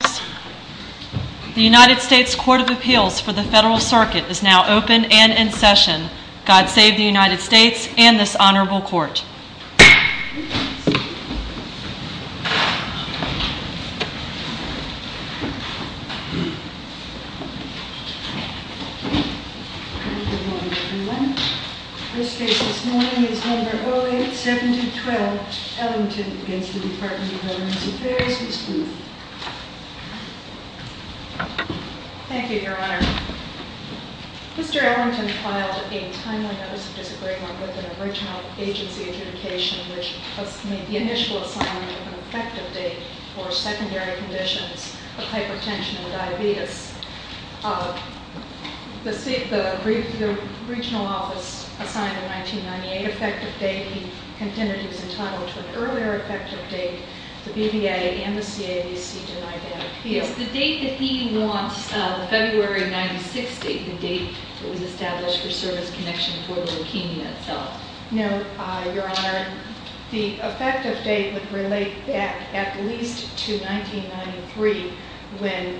The United States Court of Appeals for the Federal Circuit is now open and in session. God save the United States and this honorable court. Good morning, everyone. First case this morning is number 087012, Ellington v. DVA. Thank you, Your Honor. Mr. Ellington filed a timely notice of disagreement with an original agency adjudication, which made the initial assignment of an effective date for secondary conditions of hypertension and diabetes. The regional office assigned a 1998 effective date. He contended he was entitled to an earlier effective date. The BVA and the CABC denied that appeal. It's the date that he wants, the February of 1996 date, the date that was established for service connection for the leukemia itself. No, Your Honor. The effective date would relate back at least to 1993, when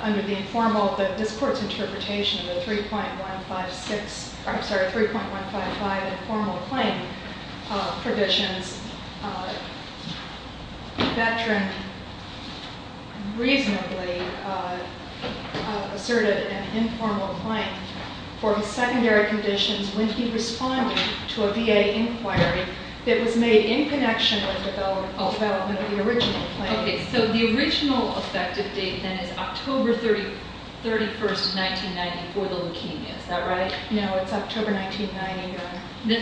under the informal, this court's interpretation of the 3.155 informal claim provisions, the veteran reasonably asserted an informal claim for secondary conditions when he responded to a VA inquiry that was made in connection with the development of the original claim. Okay, so the original effective date, then, is October 31, 1994, the leukemia. Is that right? No, it's October 1990, Your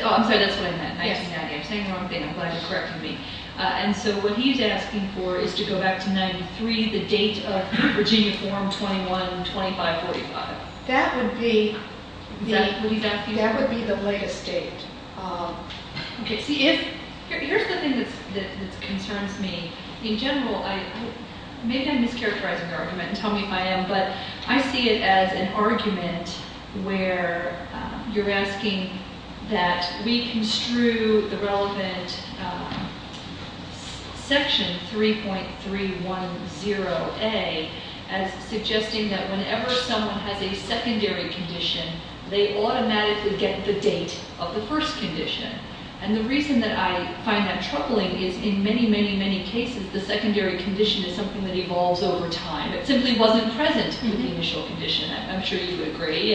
Honor. I'm sorry, that's what I meant, 1990. I'm saying the wrong thing. I'm glad you're correcting me. And so what he's asking for is to go back to 93, the date of Virginia Form 21-2545. That would be the latest date. Okay, see, here's the thing that concerns me. In general, maybe I'm mischaracterizing the argument. Tell me if I am. But I see it as an argument where you're asking that we construe the relevant Section 3.310A as suggesting that whenever someone has a secondary condition, they automatically get the date of the first condition. And the reason that I find that troubling is in many, many, many cases, the secondary condition is something that evolves over time. It simply wasn't present in the initial condition. I'm sure you would agree.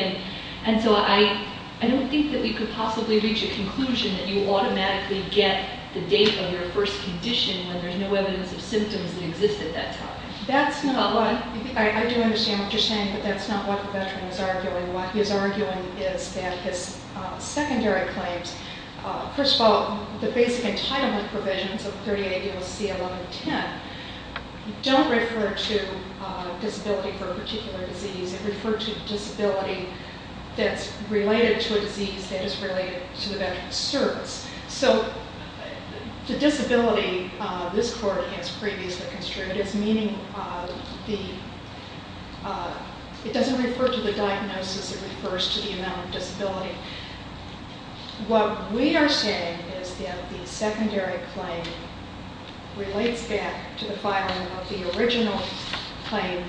And so I don't think that we could possibly reach a conclusion that you automatically get the date of your first condition when there's no evidence of symptoms that exist at that time. I do understand what you're saying, but that's not what the veteran is arguing. What he's arguing is that his secondary claims, first of all, the basic entitlement provisions of 38 U.S.C. 1110, don't refer to disability for a particular disease. They refer to disability that's related to a disease that is related to the veteran's service. So the disability, this court has previously construed as meaning the, it doesn't refer to the diagnosis. It refers to the amount of disability. What we are saying is that the secondary claim relates back to the filing of the original claim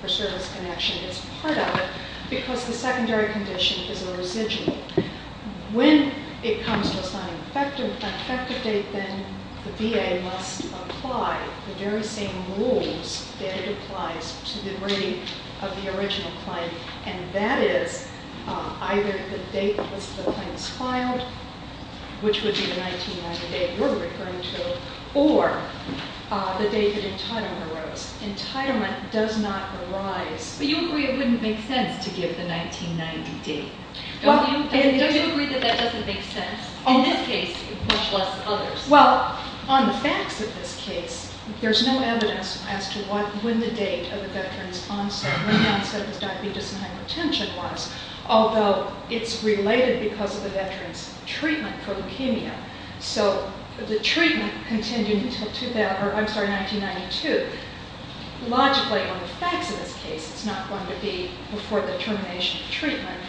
for service connection as part of it because the secondary condition is a residual. When it comes to an effective date, then the VA must apply the very same rules that it applies to the rating of the original claim, and that is either the date that the claim is filed, which would be the 1990 date you're referring to, or the date that entitlement arose. Entitlement does not arise. But you agree it wouldn't make sense to give the 1990 date. Don't you agree that that doesn't make sense? In this case, much less than others. Well, on the facts of this case, there's no evidence as to when the date of the veteran's onset, when the onset of his diabetes and hypertension was, although it's related because of the veteran's treatment for leukemia. So the treatment continued until 1992. Logically, on the facts of this case, it's not going to be before the termination of treatment.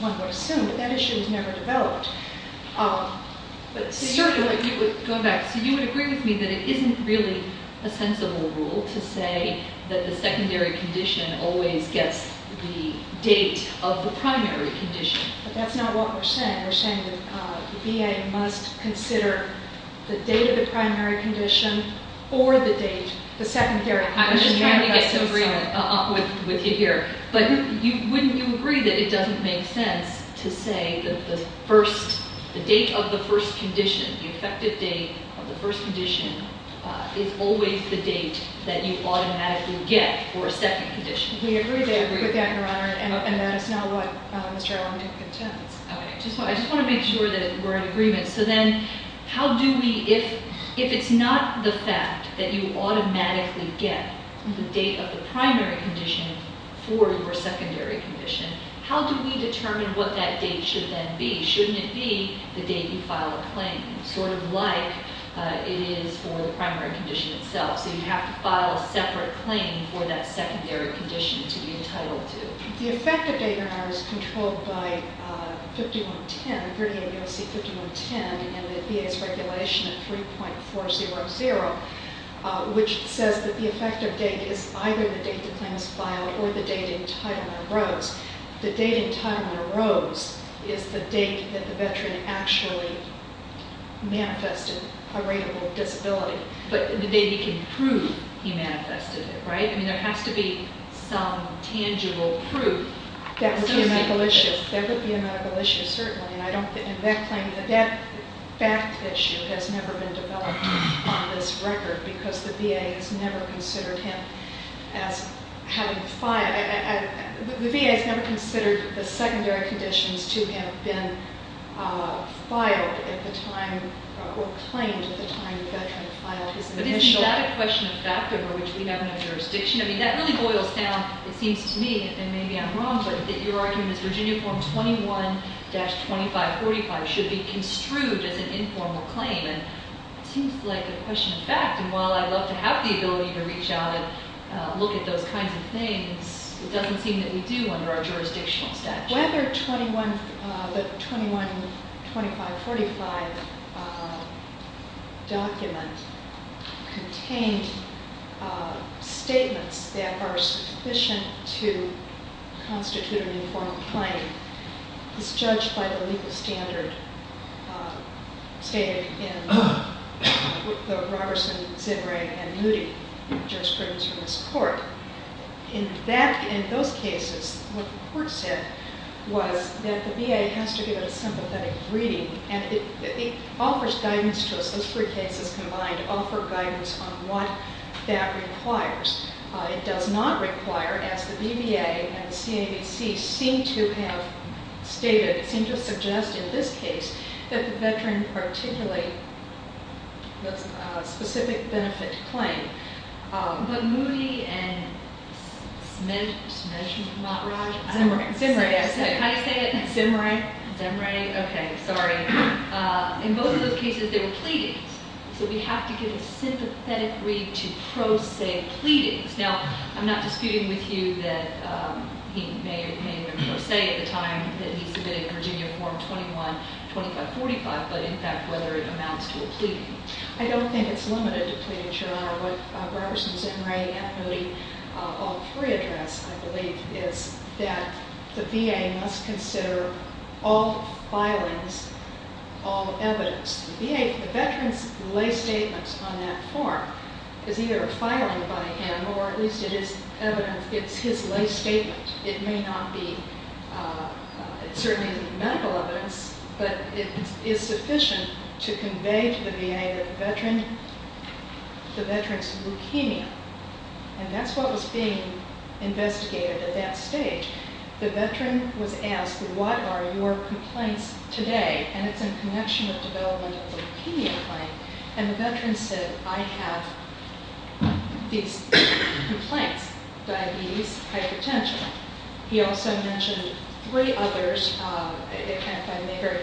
One would assume that that issue was never developed. Go back. So you would agree with me that it isn't really a sensible rule to say that the secondary condition always gets the date of the primary condition. But that's not what we're saying. We're saying that the VA must consider the date of the primary condition or the date, the secondary condition. I'm just trying to get some agreement with you here. But wouldn't you agree that it doesn't make sense to say that the first, the date of the first condition, the effective date of the first condition, is always the date that you automatically get for a second condition? We agree with that, Your Honor, and that is not what Mr. Long did contest. Okay. I just want to make sure that we're in agreement. So then how do we, if it's not the fact that you automatically get the date of the primary condition for your secondary condition, how do we determine what that date should then be? Shouldn't it be the date you file a claim, sort of like it is for the primary condition itself? So you'd have to file a separate claim for that secondary condition to be entitled to. The effective date, Your Honor, is controlled by 5110, and the VA's regulation at 3.400, which says that the effective date is either the date the claim is filed or the date entitlement arose. The date entitlement arose is the date that the veteran actually manifested a rateable disability. But the date you can prove he manifested it, right? I mean, there has to be some tangible proof. That would be a medical issue. Certainly. And that claim, that fact issue has never been developed on this record because the VA has never considered him as having filed. The VA has never considered the secondary conditions to have been filed at the time or claimed at the time the veteran filed his initial claim. But isn't that a question of fact, over which we have no jurisdiction? I mean, that really boils down, it seems to me, and maybe I'm wrong, but that your argument is Virginia Form 21-2545 should be construed as an informal claim. And it seems like a question of fact, and while I'd love to have the ability to reach out and look at those kinds of things, it doesn't seem that we do under our jurisdictional statute. Whether the 21-2545 document contained statements that are sufficient to constitute an informal claim is judged by the legal standard stated in the Roberson, Zinre, and Moody jurisprudence in this court. In those cases, what the court said was that the VA has to give it a sympathetic reading, and it offers guidance to us, those three cases combined, offer guidance on what that requires. It does not require, as the VBA and the CABC seem to have stated, seem to suggest in this case, that the veteran articulate the specific benefit claim. But Moody and Zinre, in both of those cases, they were pleadings. So we have to give a sympathetic reading to pro se pleadings. Now, I'm not disputing with you that he may or may not say at the time that he submitted Virginia Form 21-2545, but in fact, whether it amounts to a pleading. I don't think it's limited to pleading, Your Honor. What Roberson, Zinre, and Moody, all three address, I believe, is that the VA must consider all filings, all evidence. The VA, the veteran's lay statement on that form is either a filing by him, or at least it is evidence, it's his lay statement. It may not be certainly medical evidence, but it is sufficient to convey to the VA that the veteran's leukemia. And that's what was being investigated at that stage. The veteran was asked, what are your complaints today? And it's in connection with development of the leukemia claim. And the veteran said, I have these complaints, diabetes, hypertension. He also mentioned three others.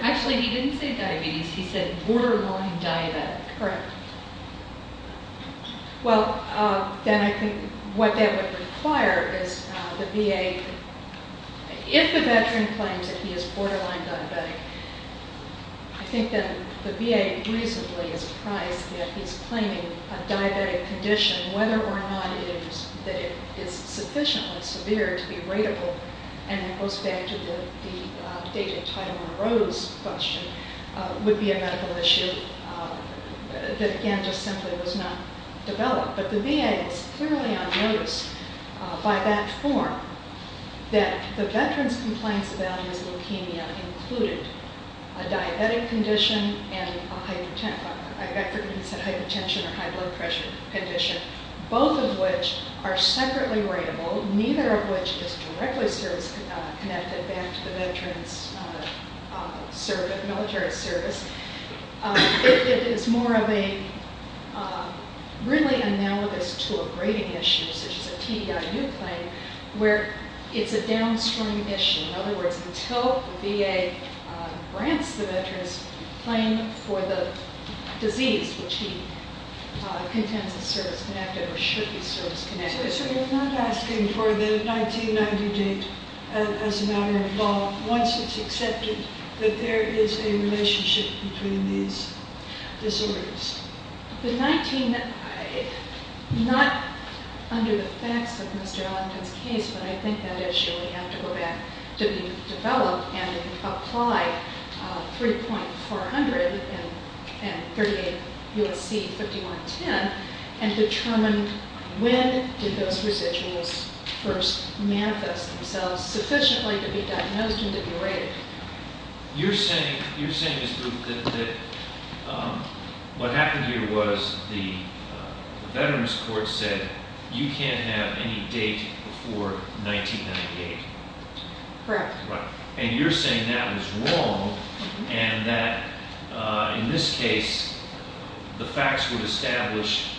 Actually, he didn't say diabetes. He said borderline diabetic. Correct. Well, then I think what that would require is the VA, if the veteran claims that he is borderline diabetic, I think that the VA reasonably is priced that he's claiming a diabetic condition, whether or not it is sufficiently severe to be rateable, and it goes back to the date of Tyler Rowe's question, would be a medical issue that, again, just simply was not developed. But the VA is clearly on notice by that form, that the veteran's complaints about his leukemia included a diabetic condition and a hypertension or high blood pressure condition, both of which are separately rateable, neither of which is directly service-connected back to the veteran's military service. It is more of a really analogous to a grading issue, such as a TDIU claim, where it's a downstream issue. In other words, until the VA grants the veteran's claim for the disease, which he contends is service-connected or should be service-connected. So you're not asking for the 1990 date as a matter of law, once it's accepted that there is a relationship between these disorders? The 1990, not under the facts of Mr. Allington's case, but I think that issue would have to go back to be developed and apply 3.400 and 38 U.S.C. 5110 and determine when did those residuals first manifest themselves sufficiently to be diagnosed and to be rated. You're saying, Ms. Booth, that what happened here was the veterans' court said that you can't have any date before 1998. Correct. And you're saying that was wrong and that in this case, the facts would establish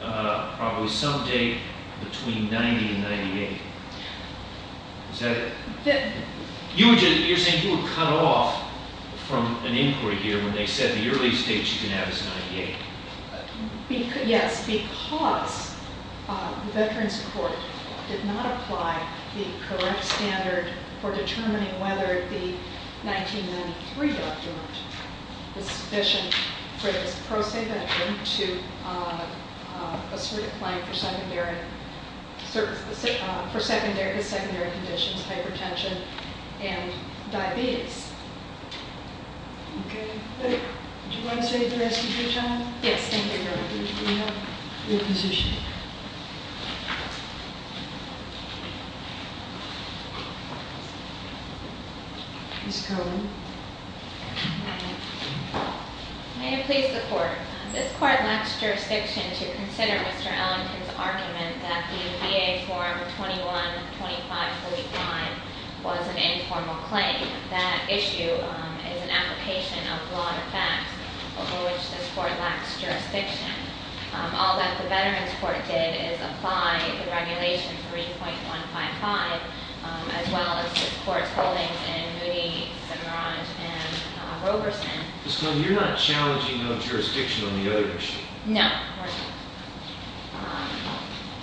probably some date between 1990 and 1998. Is that it? You're saying you were cut off from an inquiry here when they said the earliest date you can have is 1998. Yes, because the veterans' court did not apply the correct standard for determining whether the 1993 document is sufficient for this pro se veteran to assert a claim for secondary conditions, hypertension, and diabetes. Okay. Do you want to say the rest of your time? Yes, thank you. We have your position. Ms. Cohen. May it please the court. This court lacks jurisdiction to consider Mr. Allington's argument that the VA form 21-25-45 was an informal claim. That issue is an application of law and facts over which this court lacks jurisdiction. All that the veterans' court did is apply the regulation 3.155, as well as this court's holdings in Moody, Cimarron, and Roberson. Ms. Cohen, you're not challenging no jurisdiction on the other issue. No.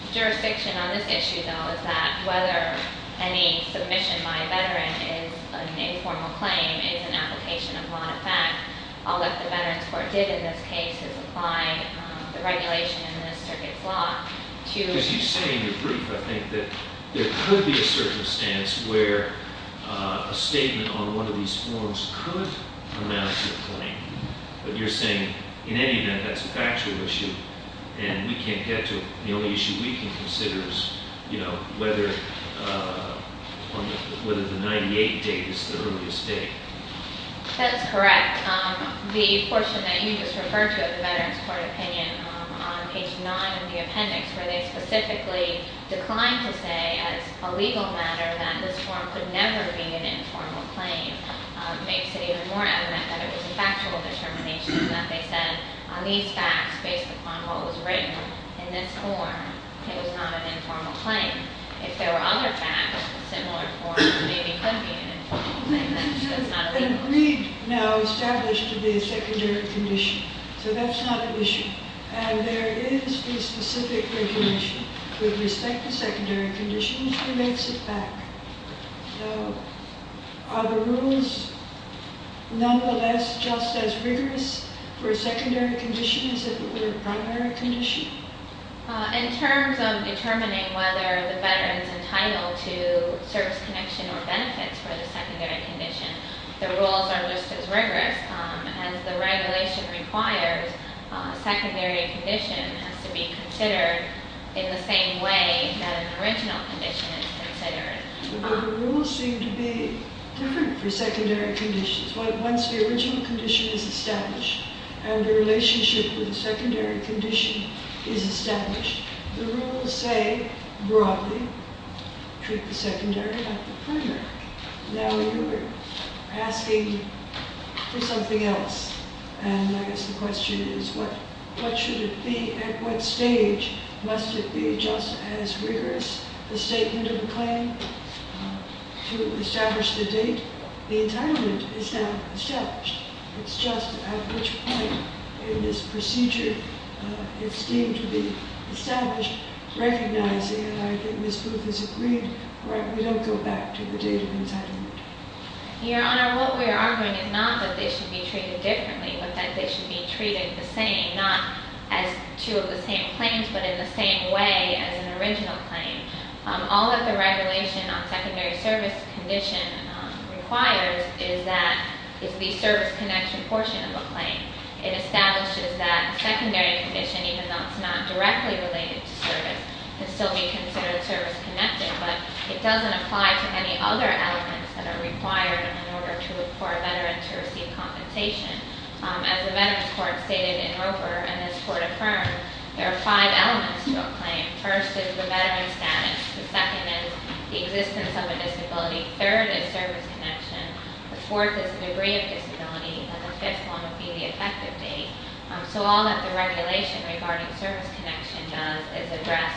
The jurisdiction on this issue, though, is that whether any submission by a veteran is an informal claim is an application of law and fact. All that the veterans' court did in this case is apply the regulation in this circuit's law to Because you say in your brief, I think, that there could be a circumstance where a statement on one of these forms could amount to a claim. But you're saying, in any event, that's a factual issue, and we can't get to it. The only issue we can consider is whether the 98 date is the earliest date. That is correct. The portion that you just referred to of the veterans' court opinion on page 9 of the appendix, where they specifically declined to say, as a legal matter, that this form could never be an informal claim, makes it even more evident that it was a factual determination, that they said, on these facts, based upon what was written in this form, it was not an informal claim. If there were other facts of similar form, it maybe could be an informal claim, but it's not a legal claim. Agreed, no, established to be a secondary condition. So that's not an issue. And there is the specific regulation with respect to secondary conditions that makes it back. So are the rules, nonetheless, just as rigorous for a secondary condition as if it were a primary condition? In terms of determining whether the veteran is entitled to service connection or benefits for the secondary condition, the rules are just as rigorous. As the regulation requires, a secondary condition has to be considered in the same way that an original condition is considered. But the rules seem to be different for secondary conditions. Once the original condition is established, and the relationship with the secondary condition is established, the rules say, broadly, treat the secondary like the primary. Now you are asking for something else, and I guess the question is, what should it be, at what stage must it be just as rigorous, the statement of a claim, to establish the date? The entitlement is now established. It's just at which point in this procedure it's deemed to be established, recognizing, and I think Ms. Booth has agreed, we don't go back to the date of entitlement. Your Honor, what we are arguing is not that they should be treated differently, but that they should be treated the same, not as two of the same claims, but in the same way as an original claim. All that the regulation on secondary service condition requires is the service connection portion of a claim. It establishes that a secondary condition, even though it's not directly related to service, can still be considered service connected, but it doesn't apply to any other elements that are required in order for a veteran to receive compensation. As the Veterans Court stated in Roper and this Court affirmed, there are five elements to a claim. First is the veteran's status. The second is the existence of a disability. Third is service connection. The fourth is the degree of disability. And the fifth one would be the effective date. So all that the regulation regarding service connection does is address,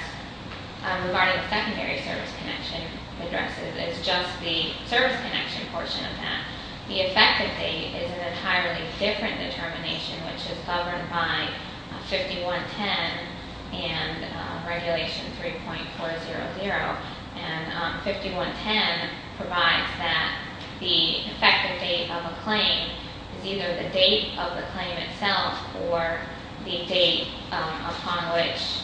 regarding the secondary service connection addresses, it's just the service connection portion of that. The effective date is an entirely different determination, which is governed by 5110 and Regulation 3.400. And 5110 provides that the effective date of a claim is either the date of the claim itself or the date upon which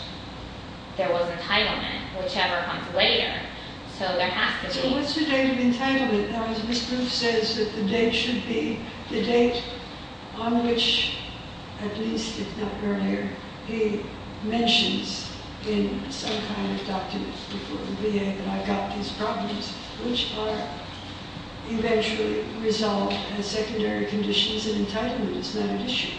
there was entitlement, whichever comes later. So there has to be... So what's the date of entitlement? Now, as Ms. Groof says, that the date should be the date on which, at least if not earlier, he mentions in some kind of document before the VA that I've got these problems, which are eventually resolved as secondary conditions, and entitlement is not an issue.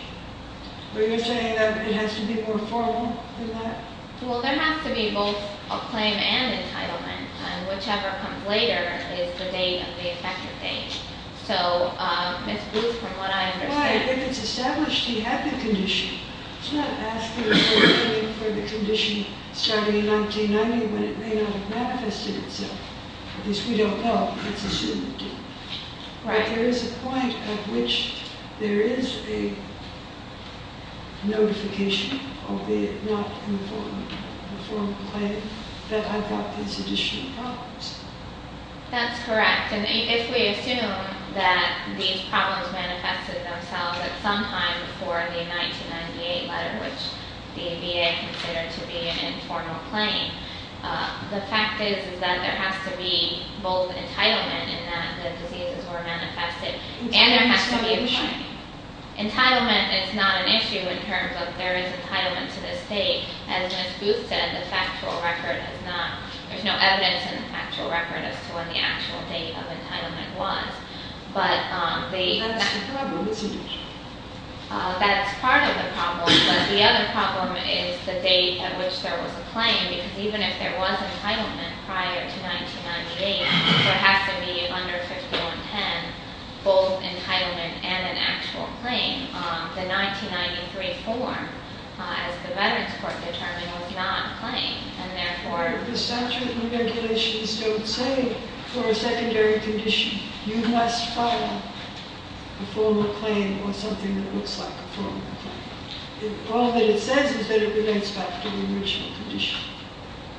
But you're saying that it has to be more formal than that? Well, there has to be both a claim and entitlement, and whichever comes later is the date of the effective date. So, Ms. Groof, from what I understand... Well, if it's established he had the condition, it's not asking for the condition starting in 1990 when it may not have manifested itself. At least we don't know. But there is a point at which there is a notification of the not-informal claim that I've got these additional problems. That's correct. And if we assume that these problems manifested themselves at some time before the 1998 letter, which the VA considered to be an informal claim, the fact is that there has to be both entitlement in that the diseases were manifested, and there has to be a claim. Entitlement is not an issue in terms of there is entitlement to this date. As Ms. Groof said, the factual record has not... There's no evidence in the factual record as to when the actual date of entitlement was. But the... That's the problem, isn't it? That's part of the problem, but the other problem is the date at which there was a claim, because even if there was entitlement prior to 1998, so it has to be under 5110, both entitlement and an actual claim, the 1993 form, as the Veterans Court determined, was not a claim, and therefore... But the statute and the regulations don't say, for a secondary condition, you must follow a formal claim or something that looks like a formal claim. All that it says is that it relates back to the original condition.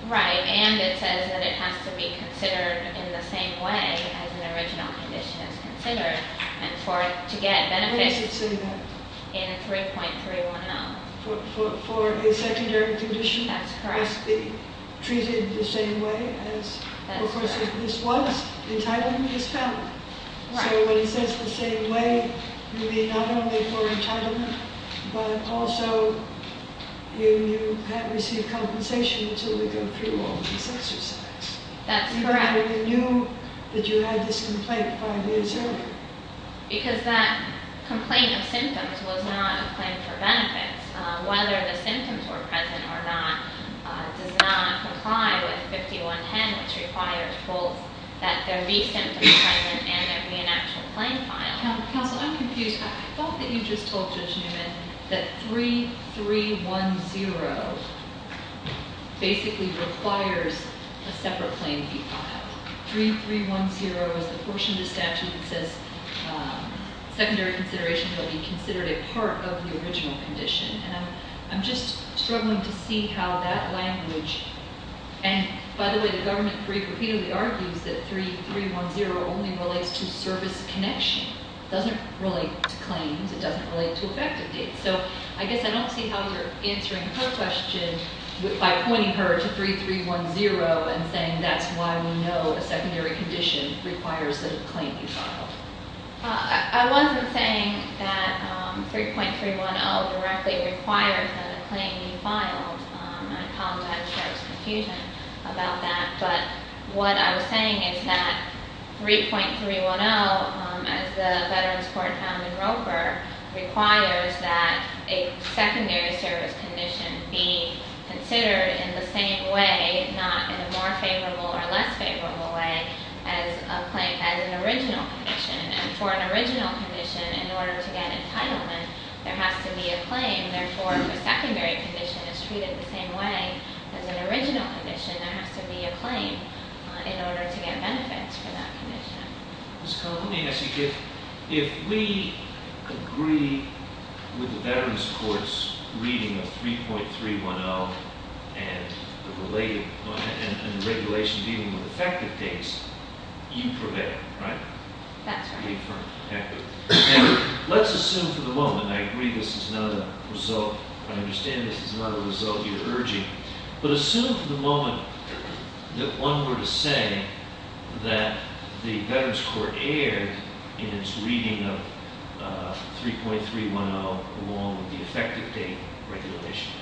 Right, and it says that it has to be considered in the same way as an original condition is considered, and for it to get benefits... Where does it say that? In 3.310. For a secondary condition... That's correct. ...must be treated the same way as... That's correct. Of course, if this was entitlement, it's found. So when it says the same way, you mean not only for entitlement, but also you have received compensation until we go through all this exercise. That's correct. You knew that you had this complaint five years earlier. Because that complaint of symptoms was not a claim for benefits. Whether the symptoms were present or not does not comply with 5110. It requires both that there be symptoms present and there be an actual claim filed. Counsel, I'm confused. I thought that you just told Judge Newman that 3.310 basically requires a separate claim to be filed. 3.310 is the portion of the statute that says secondary consideration will be considered a part of the original condition, and I'm just struggling to see how that language... And, by the way, the government repeatedly argues that 3.310 only relates to service connection. It doesn't relate to claims. It doesn't relate to effective dates. So I guess I don't see how you're answering her question by pointing her to 3310 and saying that's why we know a secondary condition requires that a claim be filed. I wasn't saying that 3.310 directly requires that a claim be filed. I apologize for Judge's confusion about that. But what I was saying is that 3.310, as the Veterans Court found in Roper, requires that a secondary service condition be considered in the same way, not in a more favorable or less favorable way, as an original condition. And for an original condition, in order to get entitlement, there has to be a claim. Therefore, if a secondary condition is treated the same way as an original condition, there has to be a claim in order to get benefits for that condition. Ms. Connell, let me ask you. If we agree with the Veterans Court's reading of 3.310 and the regulation dealing with effective dates, you prevail, right? That's right. And let's assume for the moment, and I agree this is not a result, I understand this is not a result you're urging, but assume for the moment that one were to say that the Veterans Court erred in its reading of 3.310 along with the effective date regulation.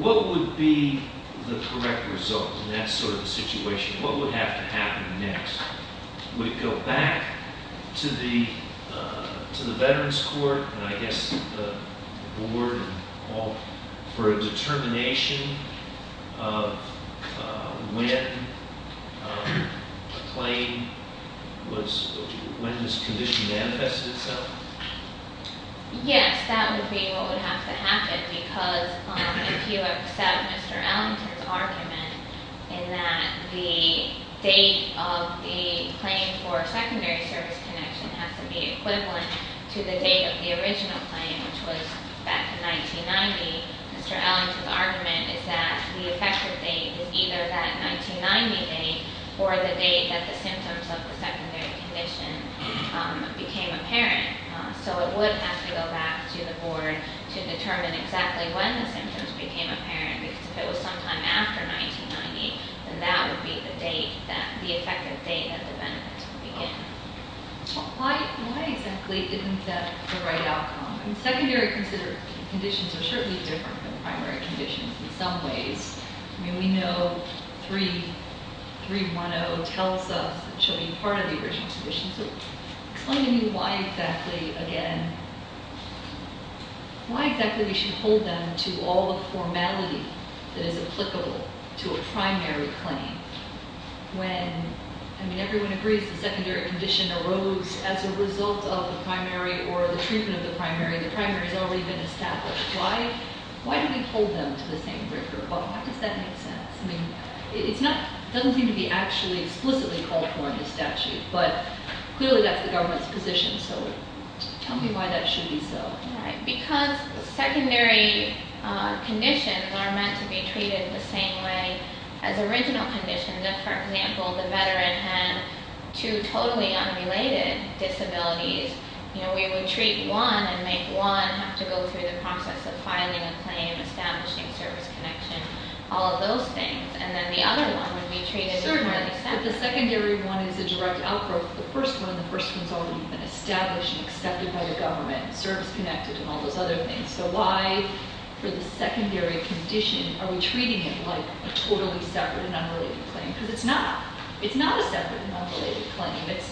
What would be the correct result in that sort of situation? What would have to happen next? Would it go back to the Veterans Court, and I guess the board and all, for a determination of when a claim was, when this condition manifested itself? Yes, that would be what would have to happen because if you accept Mr. Ellington's argument in that the date of the claim for a secondary service connection has to be equivalent to the date of the original claim, which was back in 1990, Mr. Ellington's argument is that the effective date is either that 1990 date or the date that the symptoms of the secondary condition became apparent. So it would have to go back to the board to determine exactly when the symptoms became apparent because if it was sometime after 1990, then that would be the date, the effective date that the benefits would begin. Why exactly is that the right outcome? I mean, secondary conditions are certainly different from the primary conditions in some ways. I mean, we know 310 tells us that it should be part of the original condition. So explain to me why exactly, again, why exactly we should hold them to all the formality that is applicable to a primary claim when, I mean, everyone agrees the secondary condition arose as a result of the primary or the treatment of the primary. The primary has already been established. Why do we hold them to the same group? How does that make sense? I mean, it doesn't seem to be actually explicitly called for in the statute, but clearly that's the government's position. So tell me why that should be so. Because secondary conditions are meant to be treated the same way as original conditions. If, for example, the veteran had two totally unrelated disabilities, you know, we would treat one and make one have to go through the process of filing a claim, establishing service connection, all of those things. And then the other one would be treated differently. Certainly, but the secondary one is a direct outgrowth. The first one, the first one's already been established and accepted by the government, service connected and all those other things. So why, for the secondary condition, are we treating it like a totally separate and unrelated claim? Because it's not. It's not a separate and unrelated claim. It's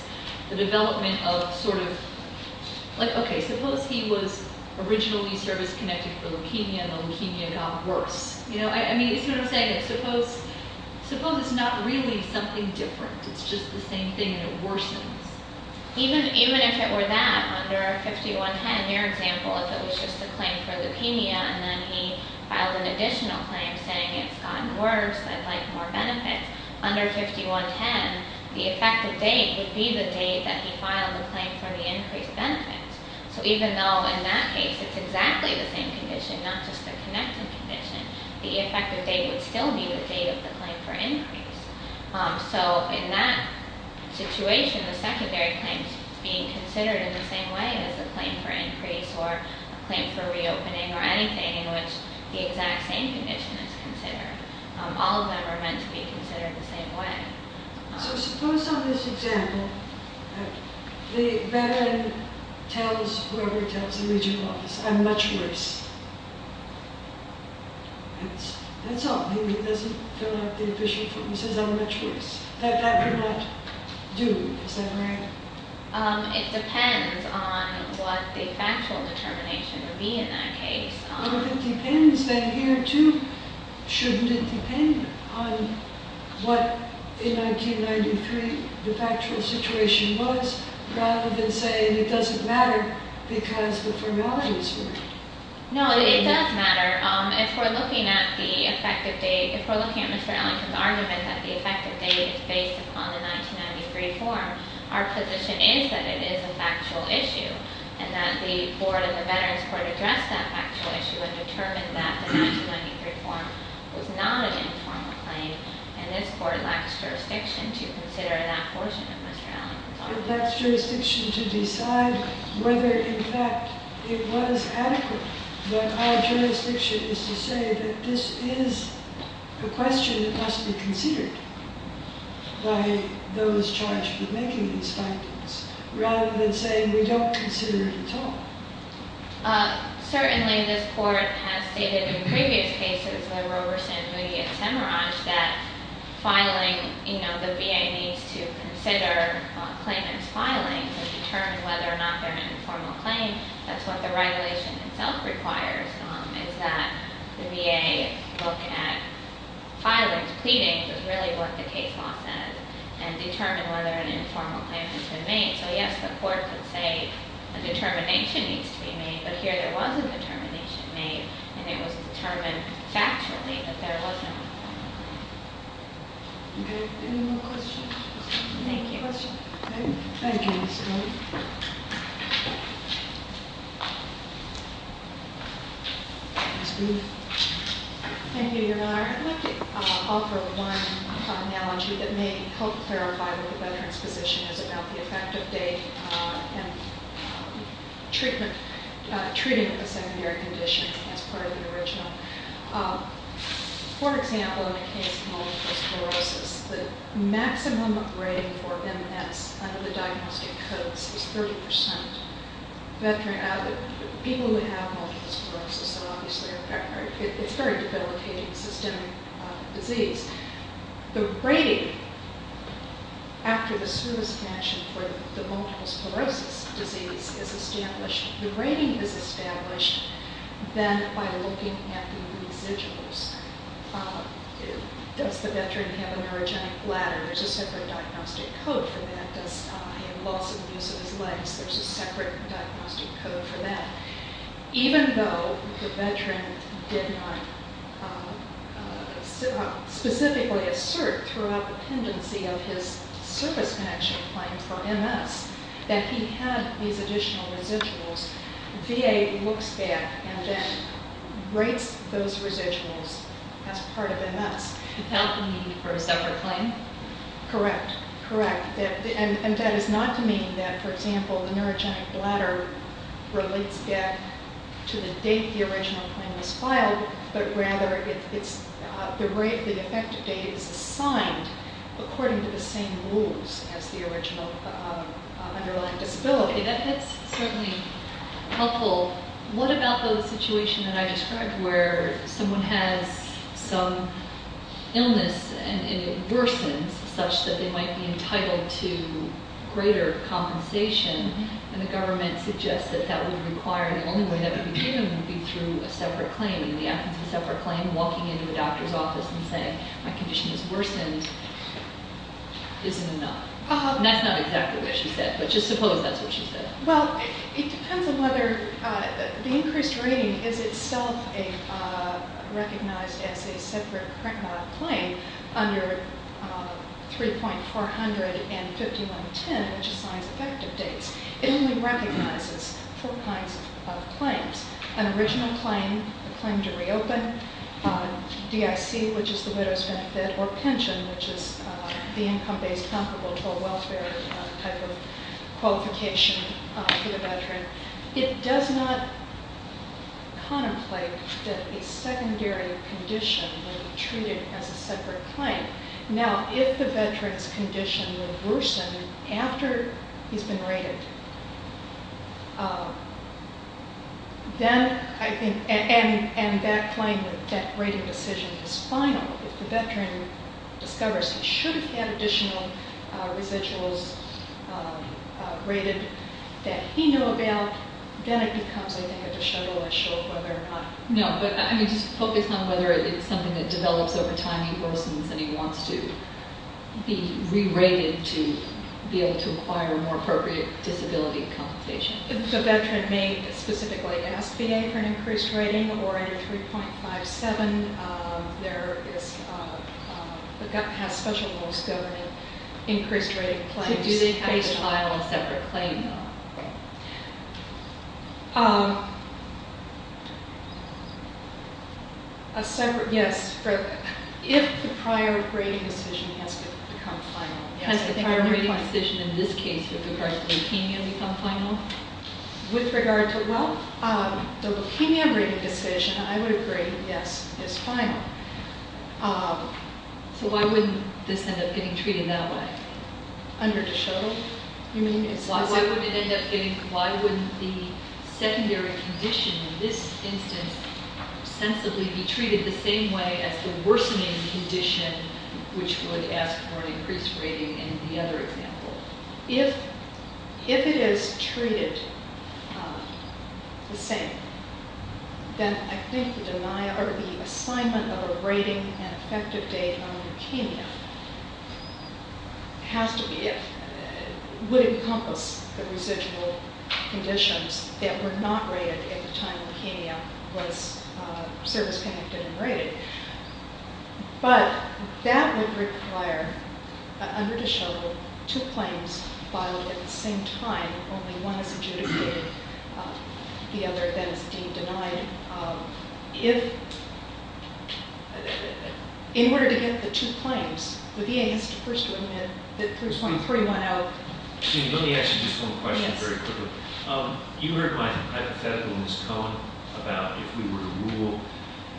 the development of sort of, like, okay, suppose he was originally service connected for leukemia and the leukemia got worse. You know, I mean, you see what I'm saying? Suppose it's not really something different. It's just the same thing and it worsens. Even if it were that, under 5110, your example, if it was just a claim for leukemia and then he filed an additional claim saying it's gotten worse, I'd like more benefits, under 5110, the effective date would be the date that he filed the claim for the increased benefits. So even though in that case it's exactly the same condition, not just the connected condition, the effective date would still be the date of the claim for increase. So in that situation, the secondary claim's being considered in the same way as the claim for increase or a claim for reopening or anything in which the exact same condition is considered. All of them are meant to be considered the same way. So suppose on this example the veteran tells whoever he tells in the regional office, I'm much worse. That's all. He doesn't fill out the official form. He says, I'm much worse. That could not do. Is that right? It depends on what the factual determination would be in that case. If it depends, then here, too, shouldn't it depend on what in 1993 the factual situation was rather than saying it doesn't matter because the formality is different? No, it does matter. If we're looking at Mr. Ellington's argument that the effective date is based upon the 1993 form, our position is that it is a factual issue and that the board and the veterans court addressed that factual issue and determined that the 1993 form was not an informal claim and this court lacks jurisdiction to consider that portion of Mr. Ellington's argument. It lacks jurisdiction to decide whether, in fact, it was adequate. But our jurisdiction is to say that this is a question that must be considered by those charged with making these findings rather than saying we don't consider it at all. Certainly, this court has stated in previous cases by Roberson, Moody, and Semiraj that filing, you know, the VA needs to consider a claimant's filing to determine whether or not they're an informal claim. That's what the regulation itself requires, is that the VA look at filing to pleading, which is really what the case law says, and determine whether an informal claim has been made. So, yes, the court could say a determination needs to be made, but here there was a determination made and it was determined factually that there wasn't. Okay. Any more questions? Thank you. Thank you, Ms. Stone. Ms. Booth. Thank you, Your Honor. I'd like to offer one analogy that may help clarify what the veteran's position is about the effective date and treatment of the secondary condition as part of the original. For example, in the case of multiple sclerosis, the maximum rating for MS under the diagnostic codes is 30%. People who have multiple sclerosis are obviously a veteran. It's a very debilitating systemic disease. The rating after the service connection for the multiple sclerosis disease is established. The rating is established then by looking at the residuals. Does the veteran have a neurogenic bladder? There's a separate diagnostic code for that. Does he have loss of the use of his legs? There's a separate diagnostic code for that. Even though the veteran did not specifically assert throughout the pendency of his service connection claim for MS that he had these additional residuals, VA looks back and then rates those residuals as part of MS. Without the need for a separate claim? Correct. Correct. That is not to mean that, for example, the neurogenic bladder relates back to the date the original claim was filed, but rather the effective date is assigned according to the same rules as the original underlying disability. That's certainly helpful. What about the situation that I described where someone has some illness and it worsens such that they might be entitled to greater compensation and the government suggests that that would require the only way that would be given would be through a separate claim. In the absence of a separate claim, walking into a doctor's office and saying, my condition has worsened isn't enough. That's not exactly what she said, but just suppose that's what she said. Well, it depends on whether the increased rating is itself recognized as a separate claim under 3.400 and 5110, which assigns effective dates. It only recognizes four kinds of claims, an original claim, a claim to reopen, DIC, which is the widow's benefit, or pension, which is the income-based comparable to a welfare type of qualification for the veteran. It does not contemplate that a secondary condition will be treated as a separate claim. Now, if the veteran's condition would worsen after he's been rated, and that rating decision is final, if the veteran discovers he should have had additional residuals rated that he knew about, then it becomes, I think, a disheveled issue of whether or not. No, but I mean, just focus on whether it's something that develops over time, he worsens, and he wants to be re-rated to be able to acquire more appropriate disability compensation. The veteran may specifically ask VA for an increased rating, or under 3.57, there is, has special rules governing increased rating claims. Do they have to file a separate claim, though? A separate, yes. If the prior rating decision has become final, yes. Has the prior rating decision, in this case, with regards to leukemia become final? With regard to, well, the leukemia rating decision, I would agree, yes, is final. So why wouldn't this end up getting treated that way? Under de Shoto, you mean? Why wouldn't it end up getting, why wouldn't the secondary condition in this instance sensibly be treated the same way as the worsening condition, which would ask for an increased rating in the other example? If it is treated the same, it has to be, it would encompass the residual conditions that were not rated at the time leukemia was service-connected and rated. But that would require, under de Shoto, two claims filed at the same time, only one is adjudicated, the other then is deemed denied. If, in order to get the two claims, the VA has to first admit that there's one 31 out. Let me ask you just one question very quickly. You heard my hypothetical with Ms. Cohen about if we were to rule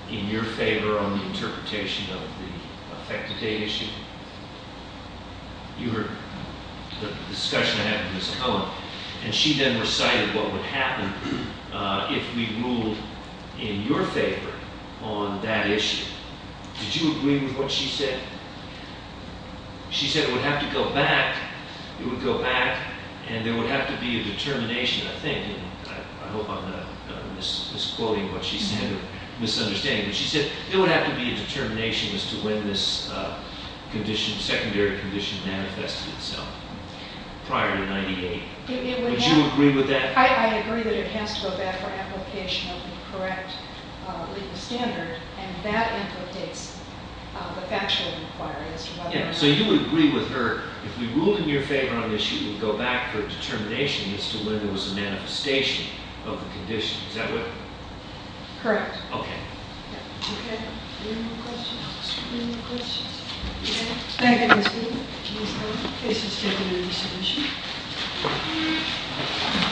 in your favor on the interpretation of the effective date issue. You heard the discussion I had with Ms. Cohen, and she then recited what would happen if we ruled in your favor on that issue. Did you agree with what she said? She said it would have to go back, it would go back, and there would have to be a determination, I think, and I hope I'm not misquoting what she said or misunderstanding, but she said there would have to be a determination as to when this secondary condition manifested itself, prior to 98. Did you agree with that? I agree that it has to go back for application of the correct legal standard, and that implicates the factual inquiries. So you would agree with her if we ruled in your favor on the issue, it would go back for a determination as to when there was a manifestation of the condition. Is that what? Correct. Okay. Okay. Any more questions? Any more questions? Okay. Thank you, Ms. Cohen. Ms. Cohen. This has been a resolution.